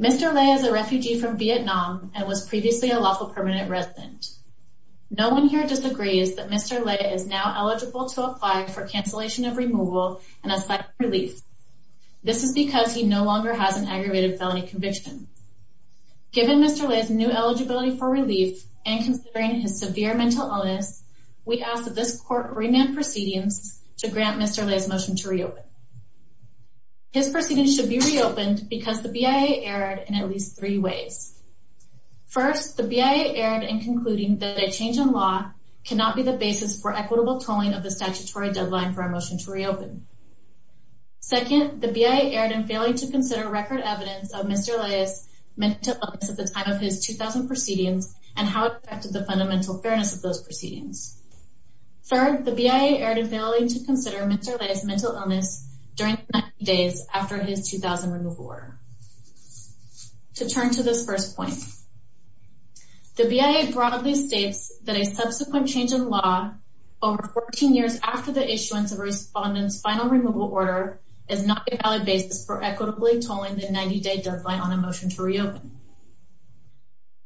Mr. Le is a refugee from Vietnam and was previously a lawful permanent resident. No one here disagrees that Mr. Le is now eligible to apply for cancellation of removal and assigned relief. This is because he no longer has an aggravated felony conviction. Given Mr. Le's new eligibility for relief and considering his severe mental illness, we ask that this court remand proceedings to grant Mr. Le's motion to reopen. His proceedings should be reopened because the BIA erred in at least three ways. First, the BIA erred in concluding that a change in law cannot be the basis for equitable tolling of the statutory deadline for a motion to reopen. Second, the BIA erred in failing to consider record evidence of Mr. Le's mental illness at the time of his 2000 proceedings and how it affected the fundamental fairness of those proceedings. Third, the BIA erred in failing to consider Mr. Le's mental illness during the 90 days after his 2000 removal order. To turn to this first point, the BIA broadly states that a subsequent change in law over 14 years after the issuance of a respondent's final removal order is not a valid basis for equitably tolling the 90 day deadline on a motion to reopen.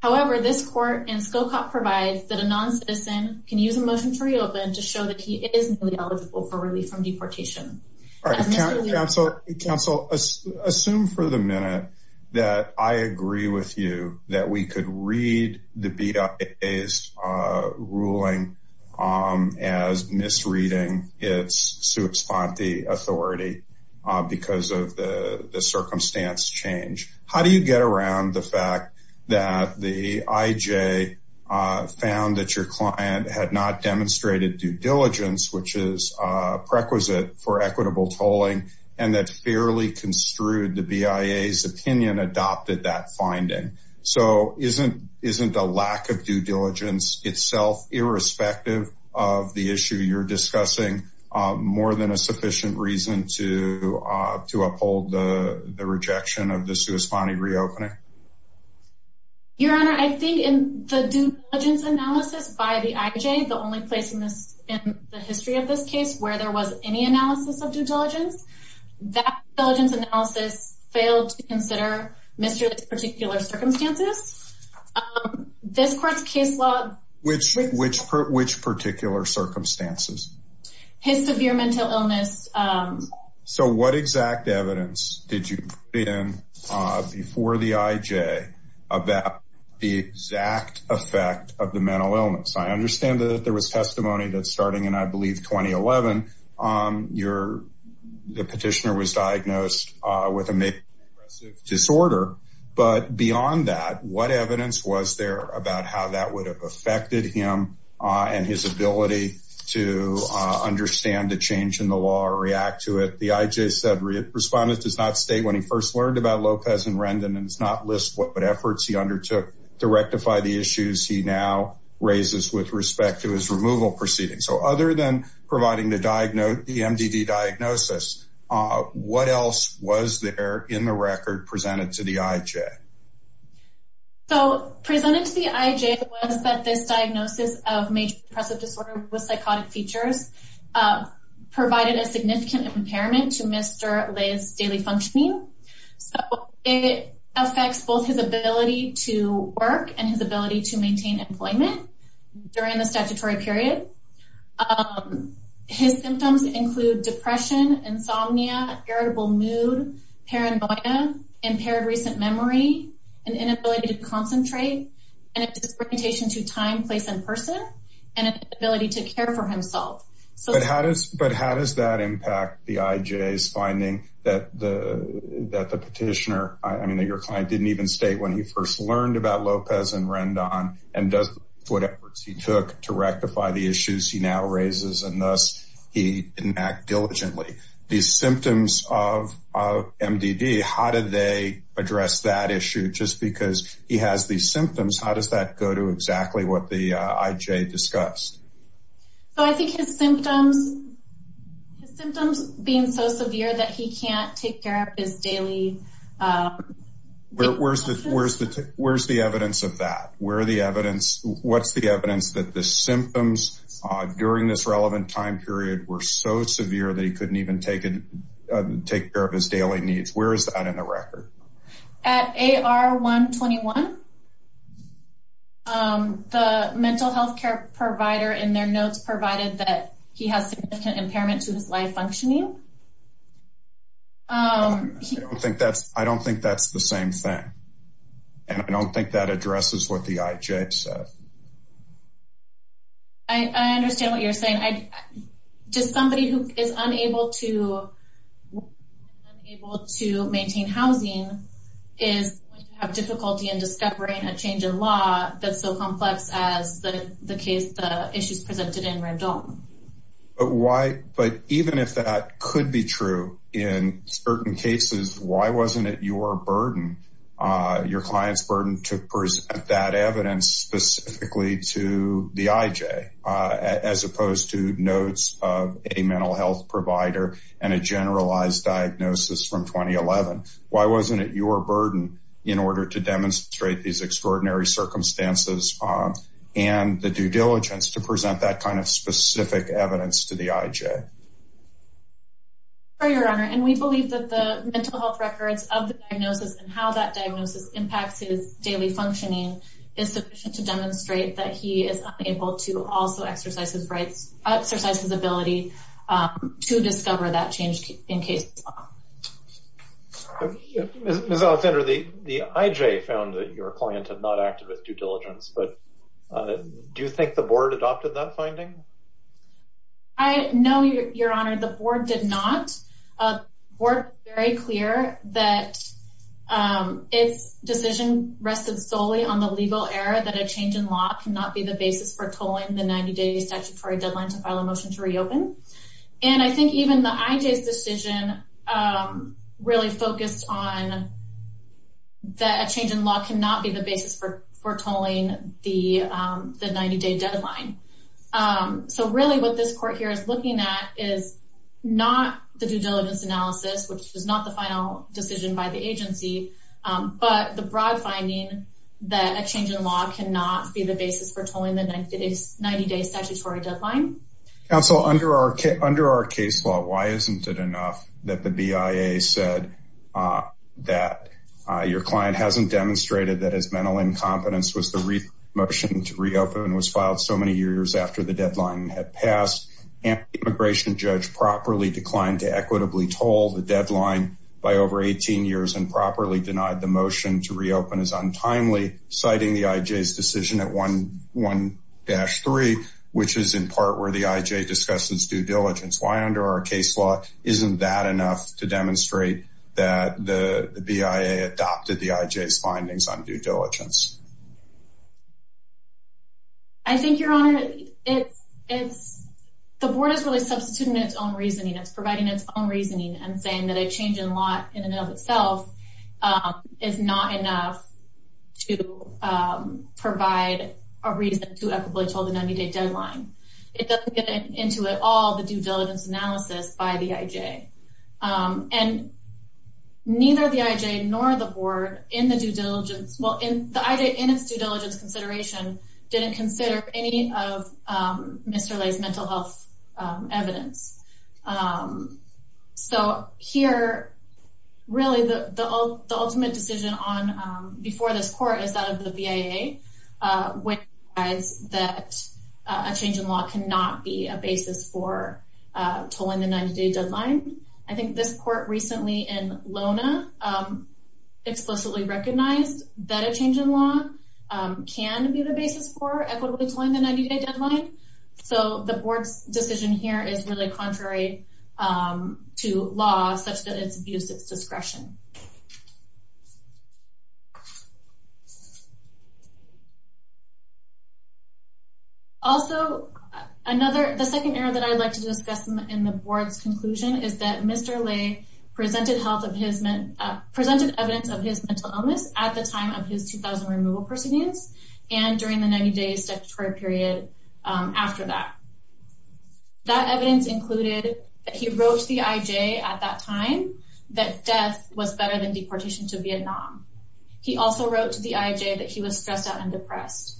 However, this court and SCOCOP provides that a non-citizen can use a motion to reopen to show that he is newly eligible for relief from deportation. All right, counsel, assume for the minute that I agree with you that we could read the misreading, it's sua exponte authority because of the circumstance change. How do you get around the fact that the IJ found that your client had not demonstrated due diligence, which is a prerequisite for equitable tolling, and that fairly construed the BIA's opinion adopted that finding? So isn't a lack of due diligence itself irrespective of the issue you're discussing more than a sufficient reason to uphold the rejection of the sua exponte reopening? Your Honor, I think in the due diligence analysis by the IJ, the only place in the history of this case where there was any analysis of due diligence, that due diligence analysis failed to consider Mr. This particular circumstances, this court's case law, which, which, which particular circumstances, his severe mental illness. So what exact evidence did you put in before the IJ about the exact effect of the mental illness? I understand that there was testimony that starting in, I believe, 2011, your the disorder. But beyond that, what evidence was there about how that would have affected him and his ability to understand the change in the law or react to it? The IJ said respondent does not state when he first learned about Lopez and Rendon and does not list what efforts he undertook to rectify the issues he now raises with respect to his removal proceedings. So other than providing the diagnosis, the MDD diagnosis, what else was there in the record presented to the IJ? So presented to the IJ was that this diagnosis of major depressive disorder with psychotic features provided a significant impairment to Mr. Liz's daily functioning. So it affects both his ability to work and his ability to maintain employment during the pandemic. His symptoms include depression, insomnia, irritable mood, paranoia, impaired recent memory, an inability to concentrate and a disorientation to time, place and person and an inability to care for himself. So how does but how does that impact the IJ's finding that the that the petitioner, I mean, that your client didn't even state when he first learned about Lopez and Rendon and does what efforts he took to rectify the issues he now raises and thus he didn't act diligently. These symptoms of MDD, how did they address that issue? Just because he has these symptoms, how does that go to exactly what the IJ discussed? So I think his symptoms, his symptoms being so severe that he can't take care of his daily. Where's the where's the where's the evidence of that? Where are the evidence? What's the evidence that the symptoms during this relevant time period were so severe that he couldn't even take it, take care of his daily needs? Where is that in the record? At AR 121, the mental health care provider in their notes provided that he has significant impairment to his life functioning. I don't think that's I don't think that's the same thing. And I don't think that addresses what the IJ said. I understand what you're saying, I just somebody who is unable to able to maintain housing is going to have difficulty in discovering a change in law that's so complex as the case, the issues presented in Rendon. But why? But even if that could be true in certain cases, why wasn't it your burden? Your client's burden to present that evidence specifically to the IJ, as opposed to notes of a mental health provider and a generalized diagnosis from 2011? Why wasn't it your burden in order to demonstrate these extraordinary circumstances and the due diligence to present that kind of specific evidence to the IJ? Your Honor, and we believe that the mental health records of the diagnosis and how that diagnosis impacts his daily functioning is sufficient to demonstrate that he is able to also exercise his rights, exercise his ability to discover that change in case. Ms. Alexander, the IJ found that your client had not acted with due diligence, but do you think the board adopted that finding? I know, Your Honor, the board did not. We're very clear that its decision rested solely on the legal error that a change in law cannot be the basis for tolling the 90-day statutory deadline to file a motion to reopen. And I think even the IJ's decision really focused on that a change in law cannot be the basis for for tolling the 90-day deadline. So really what this court here is looking at is not the due diligence analysis, which is not the final decision by the agency, but the broad finding that a change in law cannot be the basis for tolling the 90-day statutory deadline. Counsel, under our case law, why isn't it enough that the BIA said that your client hasn't demonstrated that his mental incompetence was the reason the motion to reopen was after the deadline had passed and the immigration judge properly declined to equitably toll the deadline by over 18 years and properly denied the motion to reopen as untimely, citing the IJ's decision at 1-3, which is in part where the IJ discusses due diligence? Why, under our case law, isn't that enough to demonstrate that the BIA adopted the IJ's findings on due diligence? I think, Your Honor, it's the board is really substituting its own reasoning. It's providing its own reasoning and saying that a change in law in and of itself is not enough to provide a reason to equitably toll the 90-day deadline. It doesn't get into it all the due diligence analysis by the IJ, and neither the IJ nor the board, in its due diligence consideration, didn't consider any of Mr. Leigh's mental health evidence. So here, really, the ultimate decision before this court is that of the BIA, which implies that a change in law cannot be a basis for tolling the 90-day deadline. I think this court recently in LONA explicitly recognized that a change in law can be the basis for equitably tolling the 90-day deadline. So the board's decision here is really contrary to law, such that it's abused its discretion. Also, the second error that I'd like to discuss in the board's conclusion is that Mr. Leigh presented evidence of his mental illness at the time of his 2000 removal proceedings and during the 90-day statutory period after that. That evidence included that he wrote to the IJ at that time that death was better than deportation to Vietnam. He also wrote to the IJ that he was stressed out and depressed.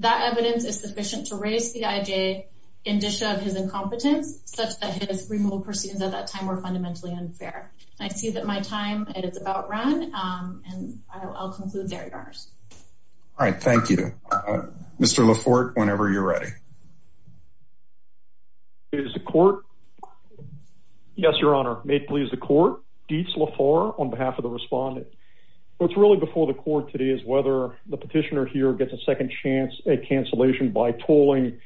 That evidence is sufficient to raise the IJ's indicia of his incompetence, such that his removal proceedings at that time were fundamentally unfair. I see that my time is about run, and I'll conclude there, Your Honors. All right, thank you. Mr. Laforte, whenever you're ready. May it please the court. Yes, Your Honor. May it please the court. Dietz Laforte on behalf of the respondent. What's really before the court today is whether the petitioner here gets a second chance at cancellation by tolling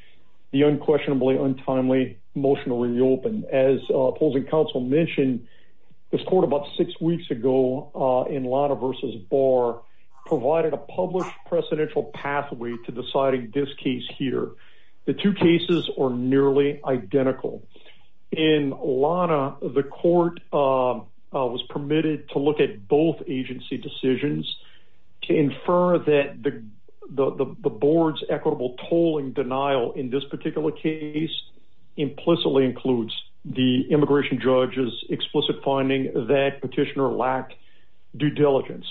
the unquestionably untimely motion to reopen. As opposing counsel mentioned, this court about six weeks ago in LONA v. Barr provided a published precedential pathway to deciding this case here. The two cases are nearly identical. In LONA, the court was permitted to look at both agency decisions to infer that the board's equitable tolling denial in this particular case implicitly includes the immigration judge's due diligence.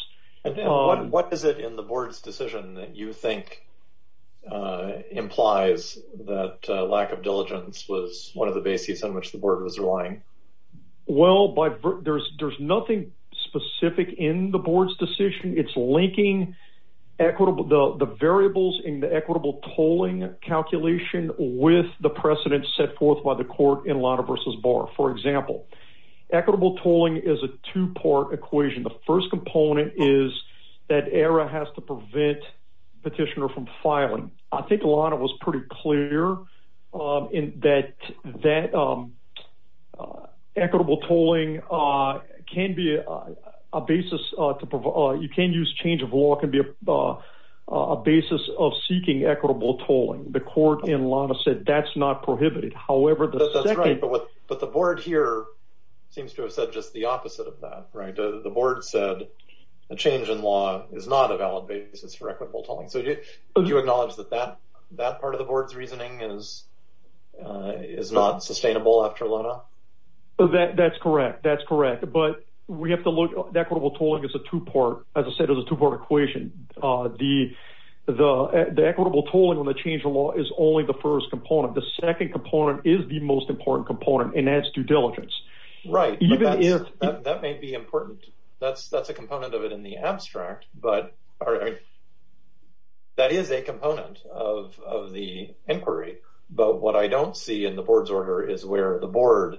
What is it in the board's decision that you think implies that lack of diligence was one of the bases on which the board was relying? Well, there's nothing specific in the board's decision. It's linking the variables in the equitable tolling calculation with the precedent set forth by the court in LONA v. Barr. For example, equitable tolling is a two-part equation. The first component is that ERA has to prevent petitioner from filing. I think LONA was pretty clear in that equitable tolling can be a basis. You can use change of law can be a basis of seeking equitable tolling. The court in LONA said that's not prohibited. That's right, but the board here seems to have said just the opposite of that, right? The board said a change in law is not a valid basis for equitable tolling. Do you acknowledge that that part of the board's reasoning is not sustainable after LONA? That's correct. That's correct. But we have to look at equitable tolling as a two-part, as I said, as a two-part equation. The equitable tolling when the change in law is only the first component. The second component is the most important component, and that's due diligence. Right, that may be important. That's a component of it in the abstract, but that is a component of the inquiry. But what I don't see in the board's order is where the board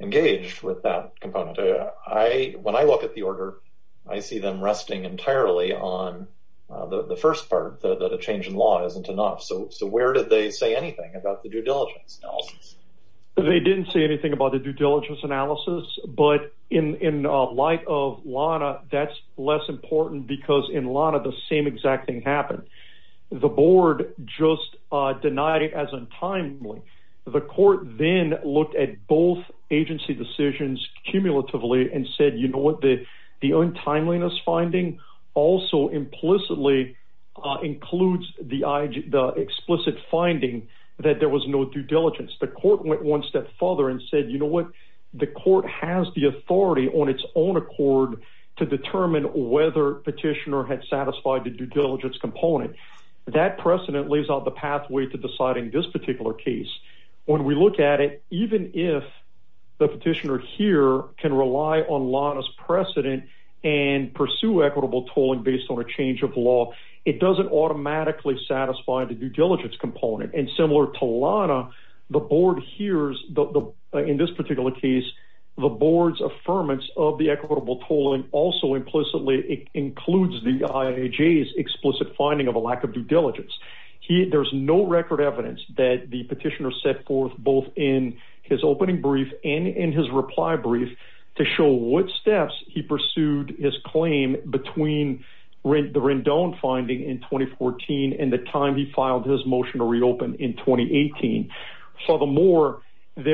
engaged with that component. When I look at the order, I see them resting entirely on the first part, that a change in law isn't enough. So where did they say anything about the due diligence analysis? They didn't say anything about the due diligence analysis, but in light of LONA, that's less important because in LONA, the same exact thing happened. The board just denied it as untimely. The court then looked at both agency decisions cumulatively and said, you know what, the untimeliness finding also implicitly includes the explicit finding that there was no due diligence. The court went one step further and said, you know what, the court has the authority on its own accord to determine whether petitioner had satisfied the due diligence component. That precedent lays out the pathway to deciding this particular case. When we look at it, even if the petitioner here can rely on LONA's precedent and pursue equitable tolling based on a change of law, it doesn't automatically satisfy the due diligence component. And similar to LONA, the board hears, in this particular case, the board's affirmance of the equitable tolling also implicitly includes the IHA's explicit finding of a lack of due diligence. There's no record evidence that the petitioner set forth both in his opening brief and in his reply brief to show what steps he pursued his claim between the Rendon finding in 2014 and the time he filed his motion to reopen in 2018. Furthermore, as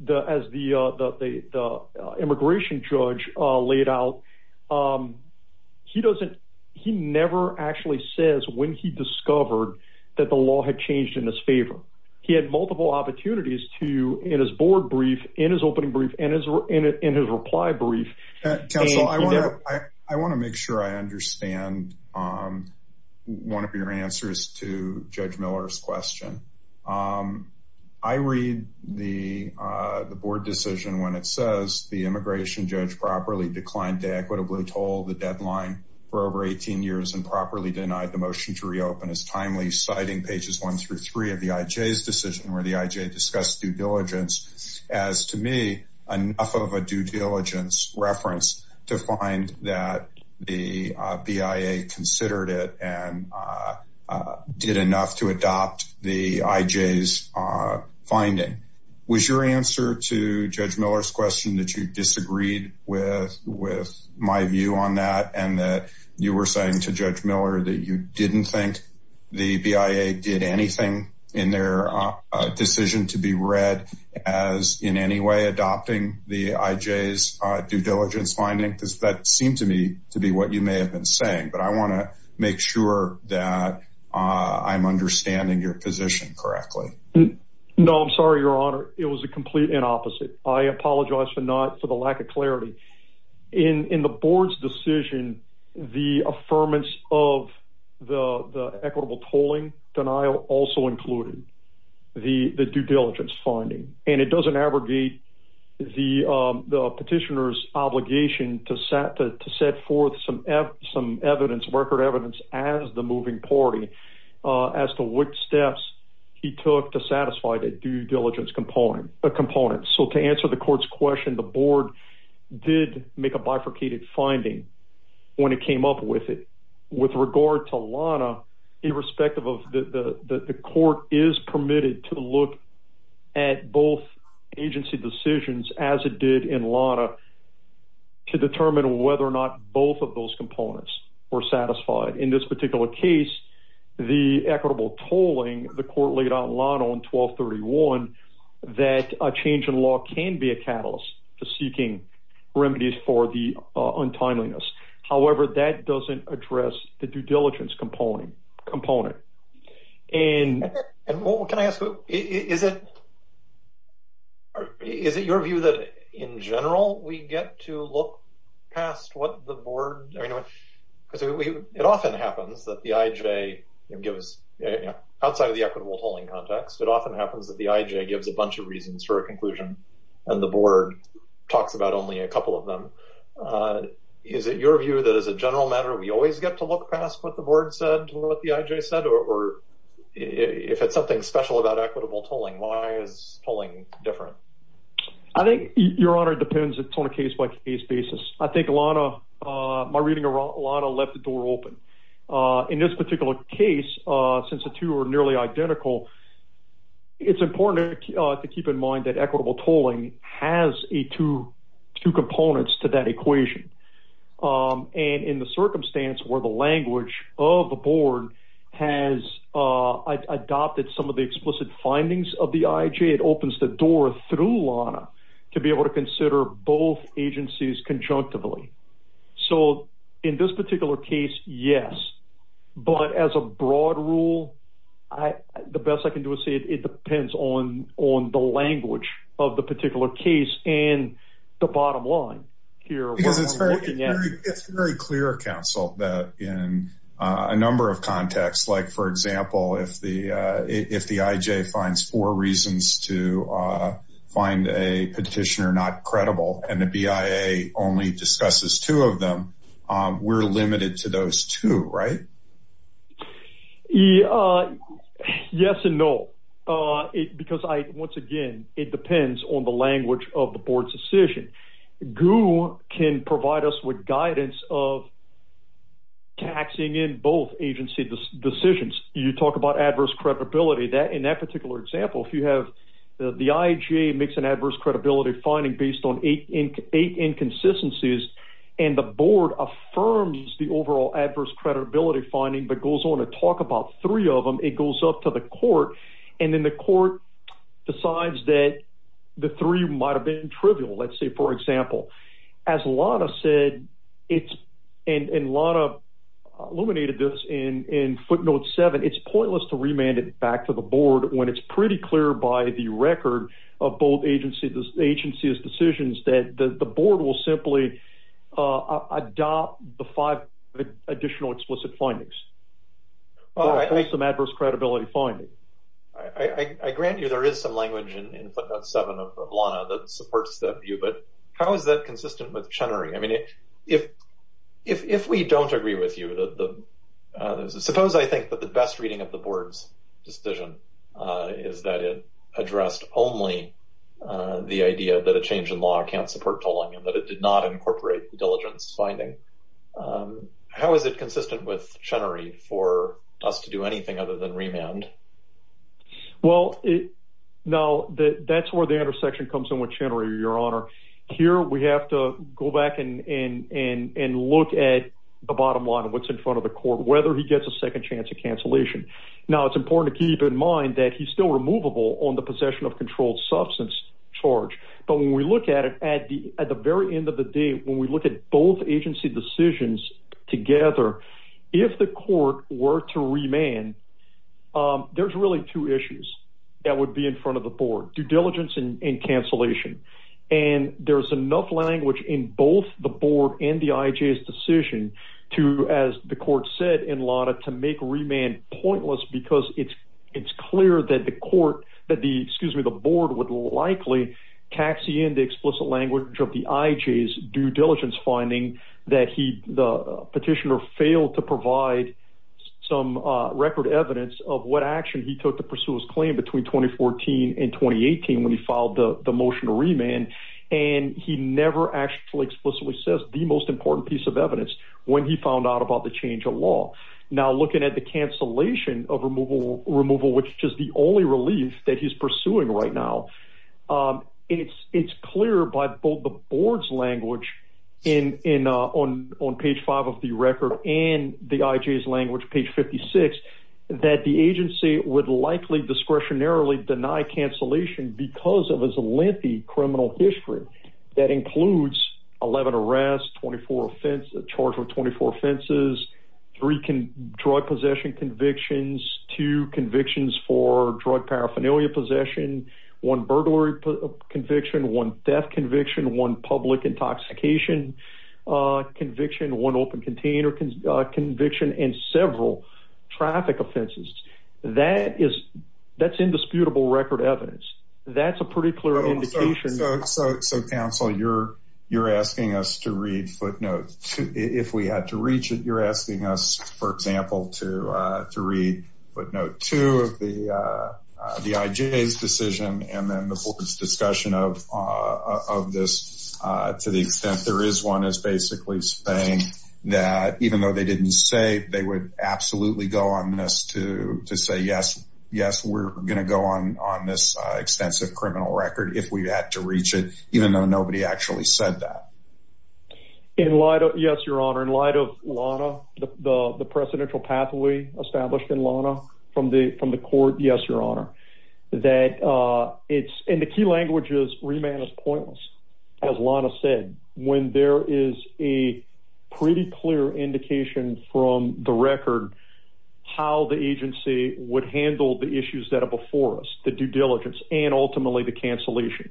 the immigration judge laid out, he never actually says when he discovered that the law had changed in his favor. He had multiple opportunities to, in his board brief, in his opening brief, and in his reply brief. Counsel, I want to make sure I understand one of your answers to Judge Miller's question. I read the board decision when it says the immigration judge properly declined to equitably toll the deadline for over 18 years and properly denied the motion to reopen. It's timely, citing pages one through three of the IJ's decision where the IJ discussed due diligence as, to me, enough of a due diligence reference to find that the BIA considered it and did enough to adopt the IJ's finding. Was your answer to Judge Miller's question that you disagreed with my view on that and that you were saying to Judge Miller that you didn't think the BIA did anything in their decision to be read as, in any way, adopting the IJ's due diligence finding? That seemed to me to be what you may have been saying. But I want to make sure that I'm understanding your position correctly. No, I'm sorry, Your Honor. It was the complete opposite. I apologize for the lack of clarity. In the board's decision, the affirmance of the equitable tolling denial also included the due diligence finding. And it doesn't abrogate the petitioner's obligation to set forth some record evidence as the moving party as to which steps he took to satisfy the due diligence component. So to answer the court's question, the board did make a bifurcated finding when it came up with it. With regard to Lana, the court is permitted to look at both agency decisions, as it did in Lana, to determine whether or not both of those components were satisfied. In this particular case, the equitable tolling, the court laid out in Lana on 1231 that a change in law can be a catalyst to seeking remedies for the untimeliness. However, that doesn't address the due diligence component. And what can I ask? Is it your view that, in general, we get to look past what the board... Because it often happens that the IJ gives... Outside of the equitable tolling context, it often happens that the IJ gives a bunch of reasons for a conclusion, and the board talks about only a couple of them. Is it your view that, as a general matter, we always get to look past what the board said, what the IJ said? Or if it's something special about equitable tolling, why is tolling different? I think, Your Honor, it depends on a case-by-case basis. I think Lana... My reading of Lana left the door open. In this particular case, since the two are nearly identical, it's important to keep in mind that equitable tolling has two components to that equation. And in the circumstance where the language of the board has adopted some of the explicit findings of the IJ, it opens the door through Lana to be able to consider both agencies conjunctively. So in this particular case, yes. But as a broad rule, the best I can do is say it depends on the language of the particular case and the bottom line here. Because it's very clear, counsel, that in a number of contexts, like, for example, if the IJ finds four reasons to find a petitioner not credible and the BIA only discusses two of them, we're limited to those two, right? Yes and no. Because, once again, it depends on the language of the board's decision. GU can provide us with guidance of taxing in both agency decisions. You talk about adverse credibility. In that particular example, if you have the IJ makes an adverse credibility finding based on eight inconsistencies and the board affirms the overall adverse credibility finding but goes on to talk about three of them, it goes up to the court and then the court decides that the three might have been trivial. Let's say, for example, as Lana said, and Lana illuminated this in footnote seven, it's pointless to remand it back to the board when it's pretty clear by the record of both agencies' decisions that the board will simply adopt the five additional explicit findings. There is some adverse credibility finding. I grant you there is some language in footnote seven of Lana that supports that view, but how is that consistent with Chenery? I mean, if we don't agree with you, suppose I think that the best reading of the board's decision is that it addressed only the idea that a change in law can't support tolling and that it did not incorporate the diligence finding, how is it consistent with Chenery for us to do anything other than remand? Well, now that's where the intersection comes in with Chenery, your honor. Here, we have to go back and look at the bottom line of what's in front of the court, whether he gets a second chance at cancellation. Now, it's important to keep in mind that he's still removable on the possession of controlled substance charge, but when we look at it at the very end of the day, when we were to remand, there's really two issues that would be in front of the board, due diligence and cancellation. And there's enough language in both the board and the IJ's decision to, as the court said in Lana, to make remand pointless because it's clear that the court, that the, excuse me, the board would likely taxi in the explicit language of the IJ's due diligence finding that the petitioner failed to provide some record evidence of what action he took to pursue his claim between 2014 and 2018 when he filed the motion to remand, and he never actually explicitly says the most important piece of evidence when he found out about the change of law. Now, looking at the cancellation of removal, which is the only relief that he's pursuing right now, it's clear by both the board's language in, on page five of the record and the IJ's language, page 56, that the agency would likely discretionarily deny cancellation because of his lengthy criminal history. That includes 11 arrests, 24 offenses, charged with 24 offenses, three drug possession convictions, two convictions for drug paraphernalia possession, one burglary conviction, one death conviction, one public intoxication conviction, one open container conviction, and several traffic offenses. That is, that's indisputable record evidence. That's a pretty clear indication. So, so, so counsel, you're, you're asking us to read footnotes. If we had to reach it, you're asking us, for example, to, uh, to read footnote two of the, uh, the IJ's decision and then the board's discussion of, uh, of this, uh, to the extent there is one is basically saying that even though they didn't say they would absolutely go on this to, to say, yes, yes, we're going to go on, on this, uh, extensive criminal record if we had to reach it, even though nobody actually said that. In light of, yes, your honor, in light of Lana, the, the, the presidential pathway established in Lana from the, from the court. Yes, your honor. That, uh, it's in the key languages, remand is pointless. As Lana said, when there is a pretty clear indication from the record, how the agency would handle the issues that are before us, the due diligence and ultimately the cancellation.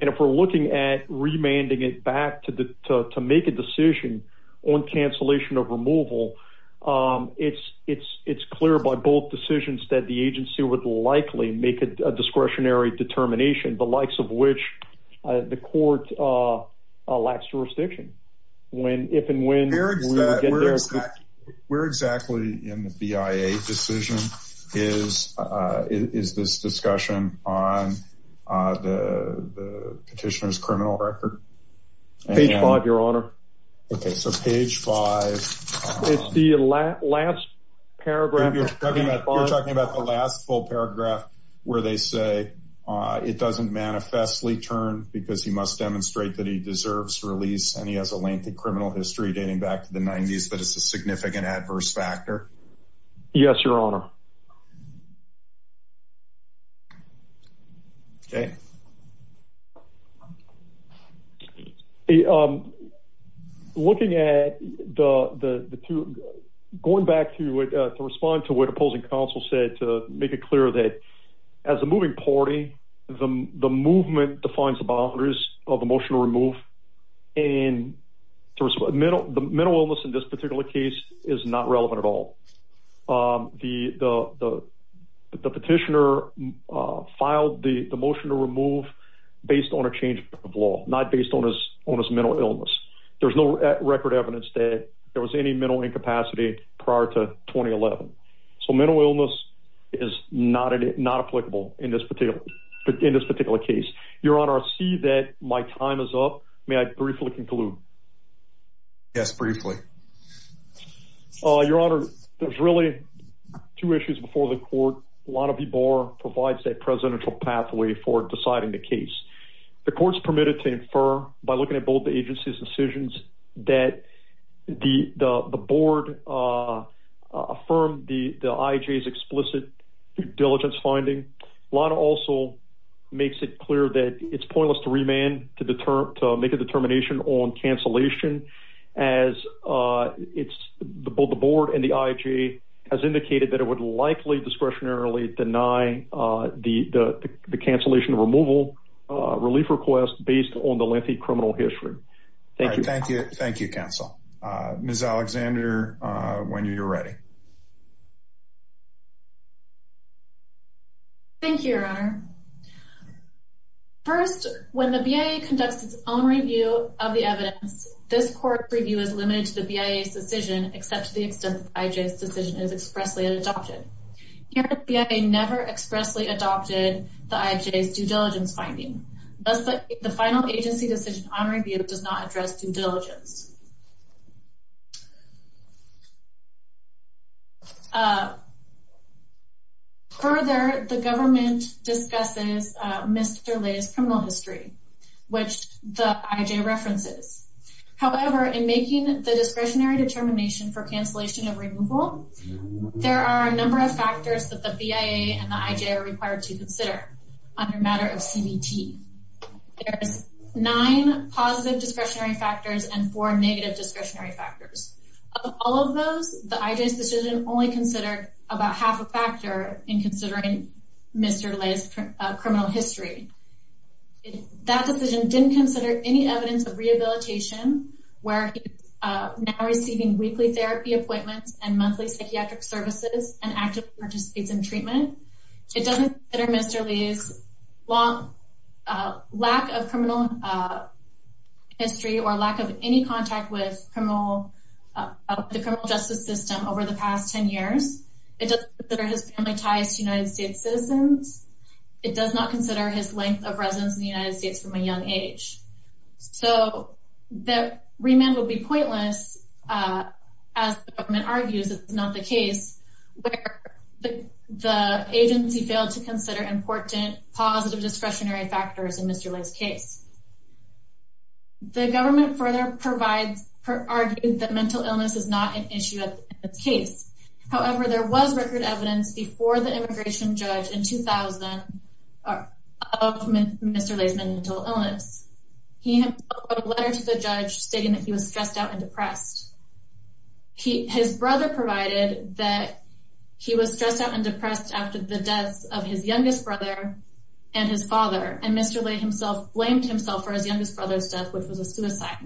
And if we're looking at remanding it back to the, to, to make a decision on cancellation of removal, um, it's, it's, it's clear by both decisions that the agency would likely make a discretionary determination, the likes of which, uh, the court, uh, uh, lacks jurisdiction. When, if, and when we're exactly in the BIA decision is, uh, is this discussion on, uh, the petitioner's criminal record? Page five, your honor. Okay. So page five. It's the last paragraph. You're talking about the last full paragraph where they say, uh, it doesn't manifestly turn because he must demonstrate that he deserves release. And he has a lengthy criminal history dating back to the nineties, but it's a significant adverse factor. Yes, your honor. Okay. Um, looking at the, the, the two going back to, uh, to respond to what opposing counsel said, to make it clear that as a moving party, the movement defines the boundaries of emotional remove and to respond middle, the mental illness in this particular case is not relevant at all. Um, the, the, the, the petitioner, uh, filed the motion to remove based on a change of law, not based on his, on his mental illness. There was no record evidence that there was any mental incapacity prior to 2011. So mental illness is not, not applicable in this particular, in this particular case, your honor, see that my time is up. May I briefly conclude? Yes, briefly. Oh, your honor. There's really two issues before the court. A lot of people are provides that presidential pathway for deciding the case. The court's permitted to infer by looking at both the agency's decisions that the, the, the board, uh, uh, affirm the, the IJs explicit diligence finding a lot of also makes it clear that it's pointless to remand, to deter, to make a determination on cancellation as, uh, it's the, both the board and the IJ has indicated that it would likely discretionarily deny, uh, the, the, the cancellation removal, uh, relief request based on the lengthy criminal history. Thank you. Thank you. Thank you counsel. Uh, Ms. Alexander, uh, when you're ready. Thank you, your honor. First, when the BIA conducts its own review of the evidence, this court review is limited to the BIA's decision, except to the extent that IJ's decision is expressly adopted. Here, the BIA never expressly adopted the IJ's due diligence finding. Thus, the final agency decision on review does not address due diligence. Uh, further, the government discusses, uh, Mr. Leigh's criminal history, which the IJ references. However, in making the discretionary determination for cancellation of removal, there are a number of factors that the BIA and the IJ are required to consider on the matter of CBT. There's nine positive discretionary factors and four negative discretionary factors. Of all of those, the IJ's decision only considered about half a factor in considering Mr. Leigh's criminal history. That decision didn't consider any evidence of rehabilitation where he's, uh, now receiving weekly therapy appointments and monthly psychiatric services and active participates in treatment. It doesn't consider Mr. Leigh's long, uh, lack of criminal, uh, history or lack of any contact with criminal, uh, the criminal justice system over the past 10 years. It doesn't consider his family ties to United States citizens. It does not consider his length of residence in the United States from a young age. So, the remand would be pointless, uh, as the government argues it's not the case where the agency failed to consider important positive discretionary factors in Mr. Leigh's case. The government further provides, argued that mental illness is not an issue of the case. However, there was record evidence before the immigration judge in 2000 of Mr. Leigh's mental illness. He had a letter to the judge stating that he was stressed out and depressed. He, his brother provided that he was stressed out and depressed after the deaths of his youngest brother and his father. And Mr. Leigh himself blamed himself for his youngest brother's death, which was a suicide.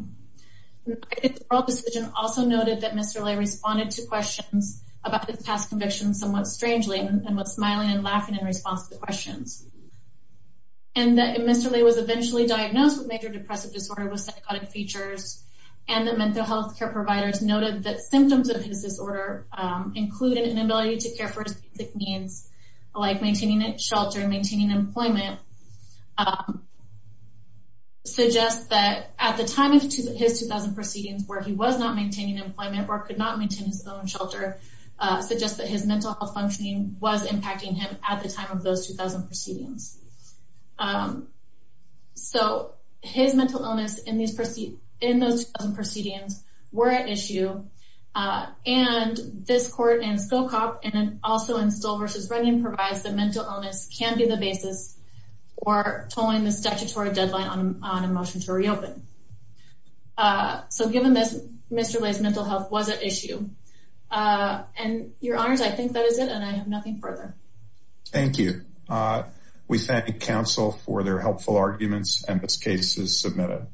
I think the oral decision also noted that Mr. Leigh responded to questions about his past convictions somewhat strangely and was smiling and laughing in response to the questions. And that Mr. Leigh was eventually diagnosed with major depressive disorder with psychotic features and the mental health care providers noted that symptoms of his disorder, um, included an inability to care for his basic needs, like maintaining a shelter and maintaining employment. Um, suggest that at the time of his 2000 proceedings, where he was not maintaining employment or could not maintain his own shelter, uh, suggest that his mental health functioning was impacting him at the time of those 2000 proceedings. Um, so his mental illness in these, in those proceedings were at issue. Uh, and this court and SOCOP and also in Stoll v. Brennan provides that mental illness can be the basis for tolling the statutory deadline on a motion to reopen. Uh, so given this, Mr. Leigh's mental health was at issue. Uh, and your honors, I think that is it. And I have nothing further. Thank you. Uh, we thank counsel for their helpful arguments and this case is submitted.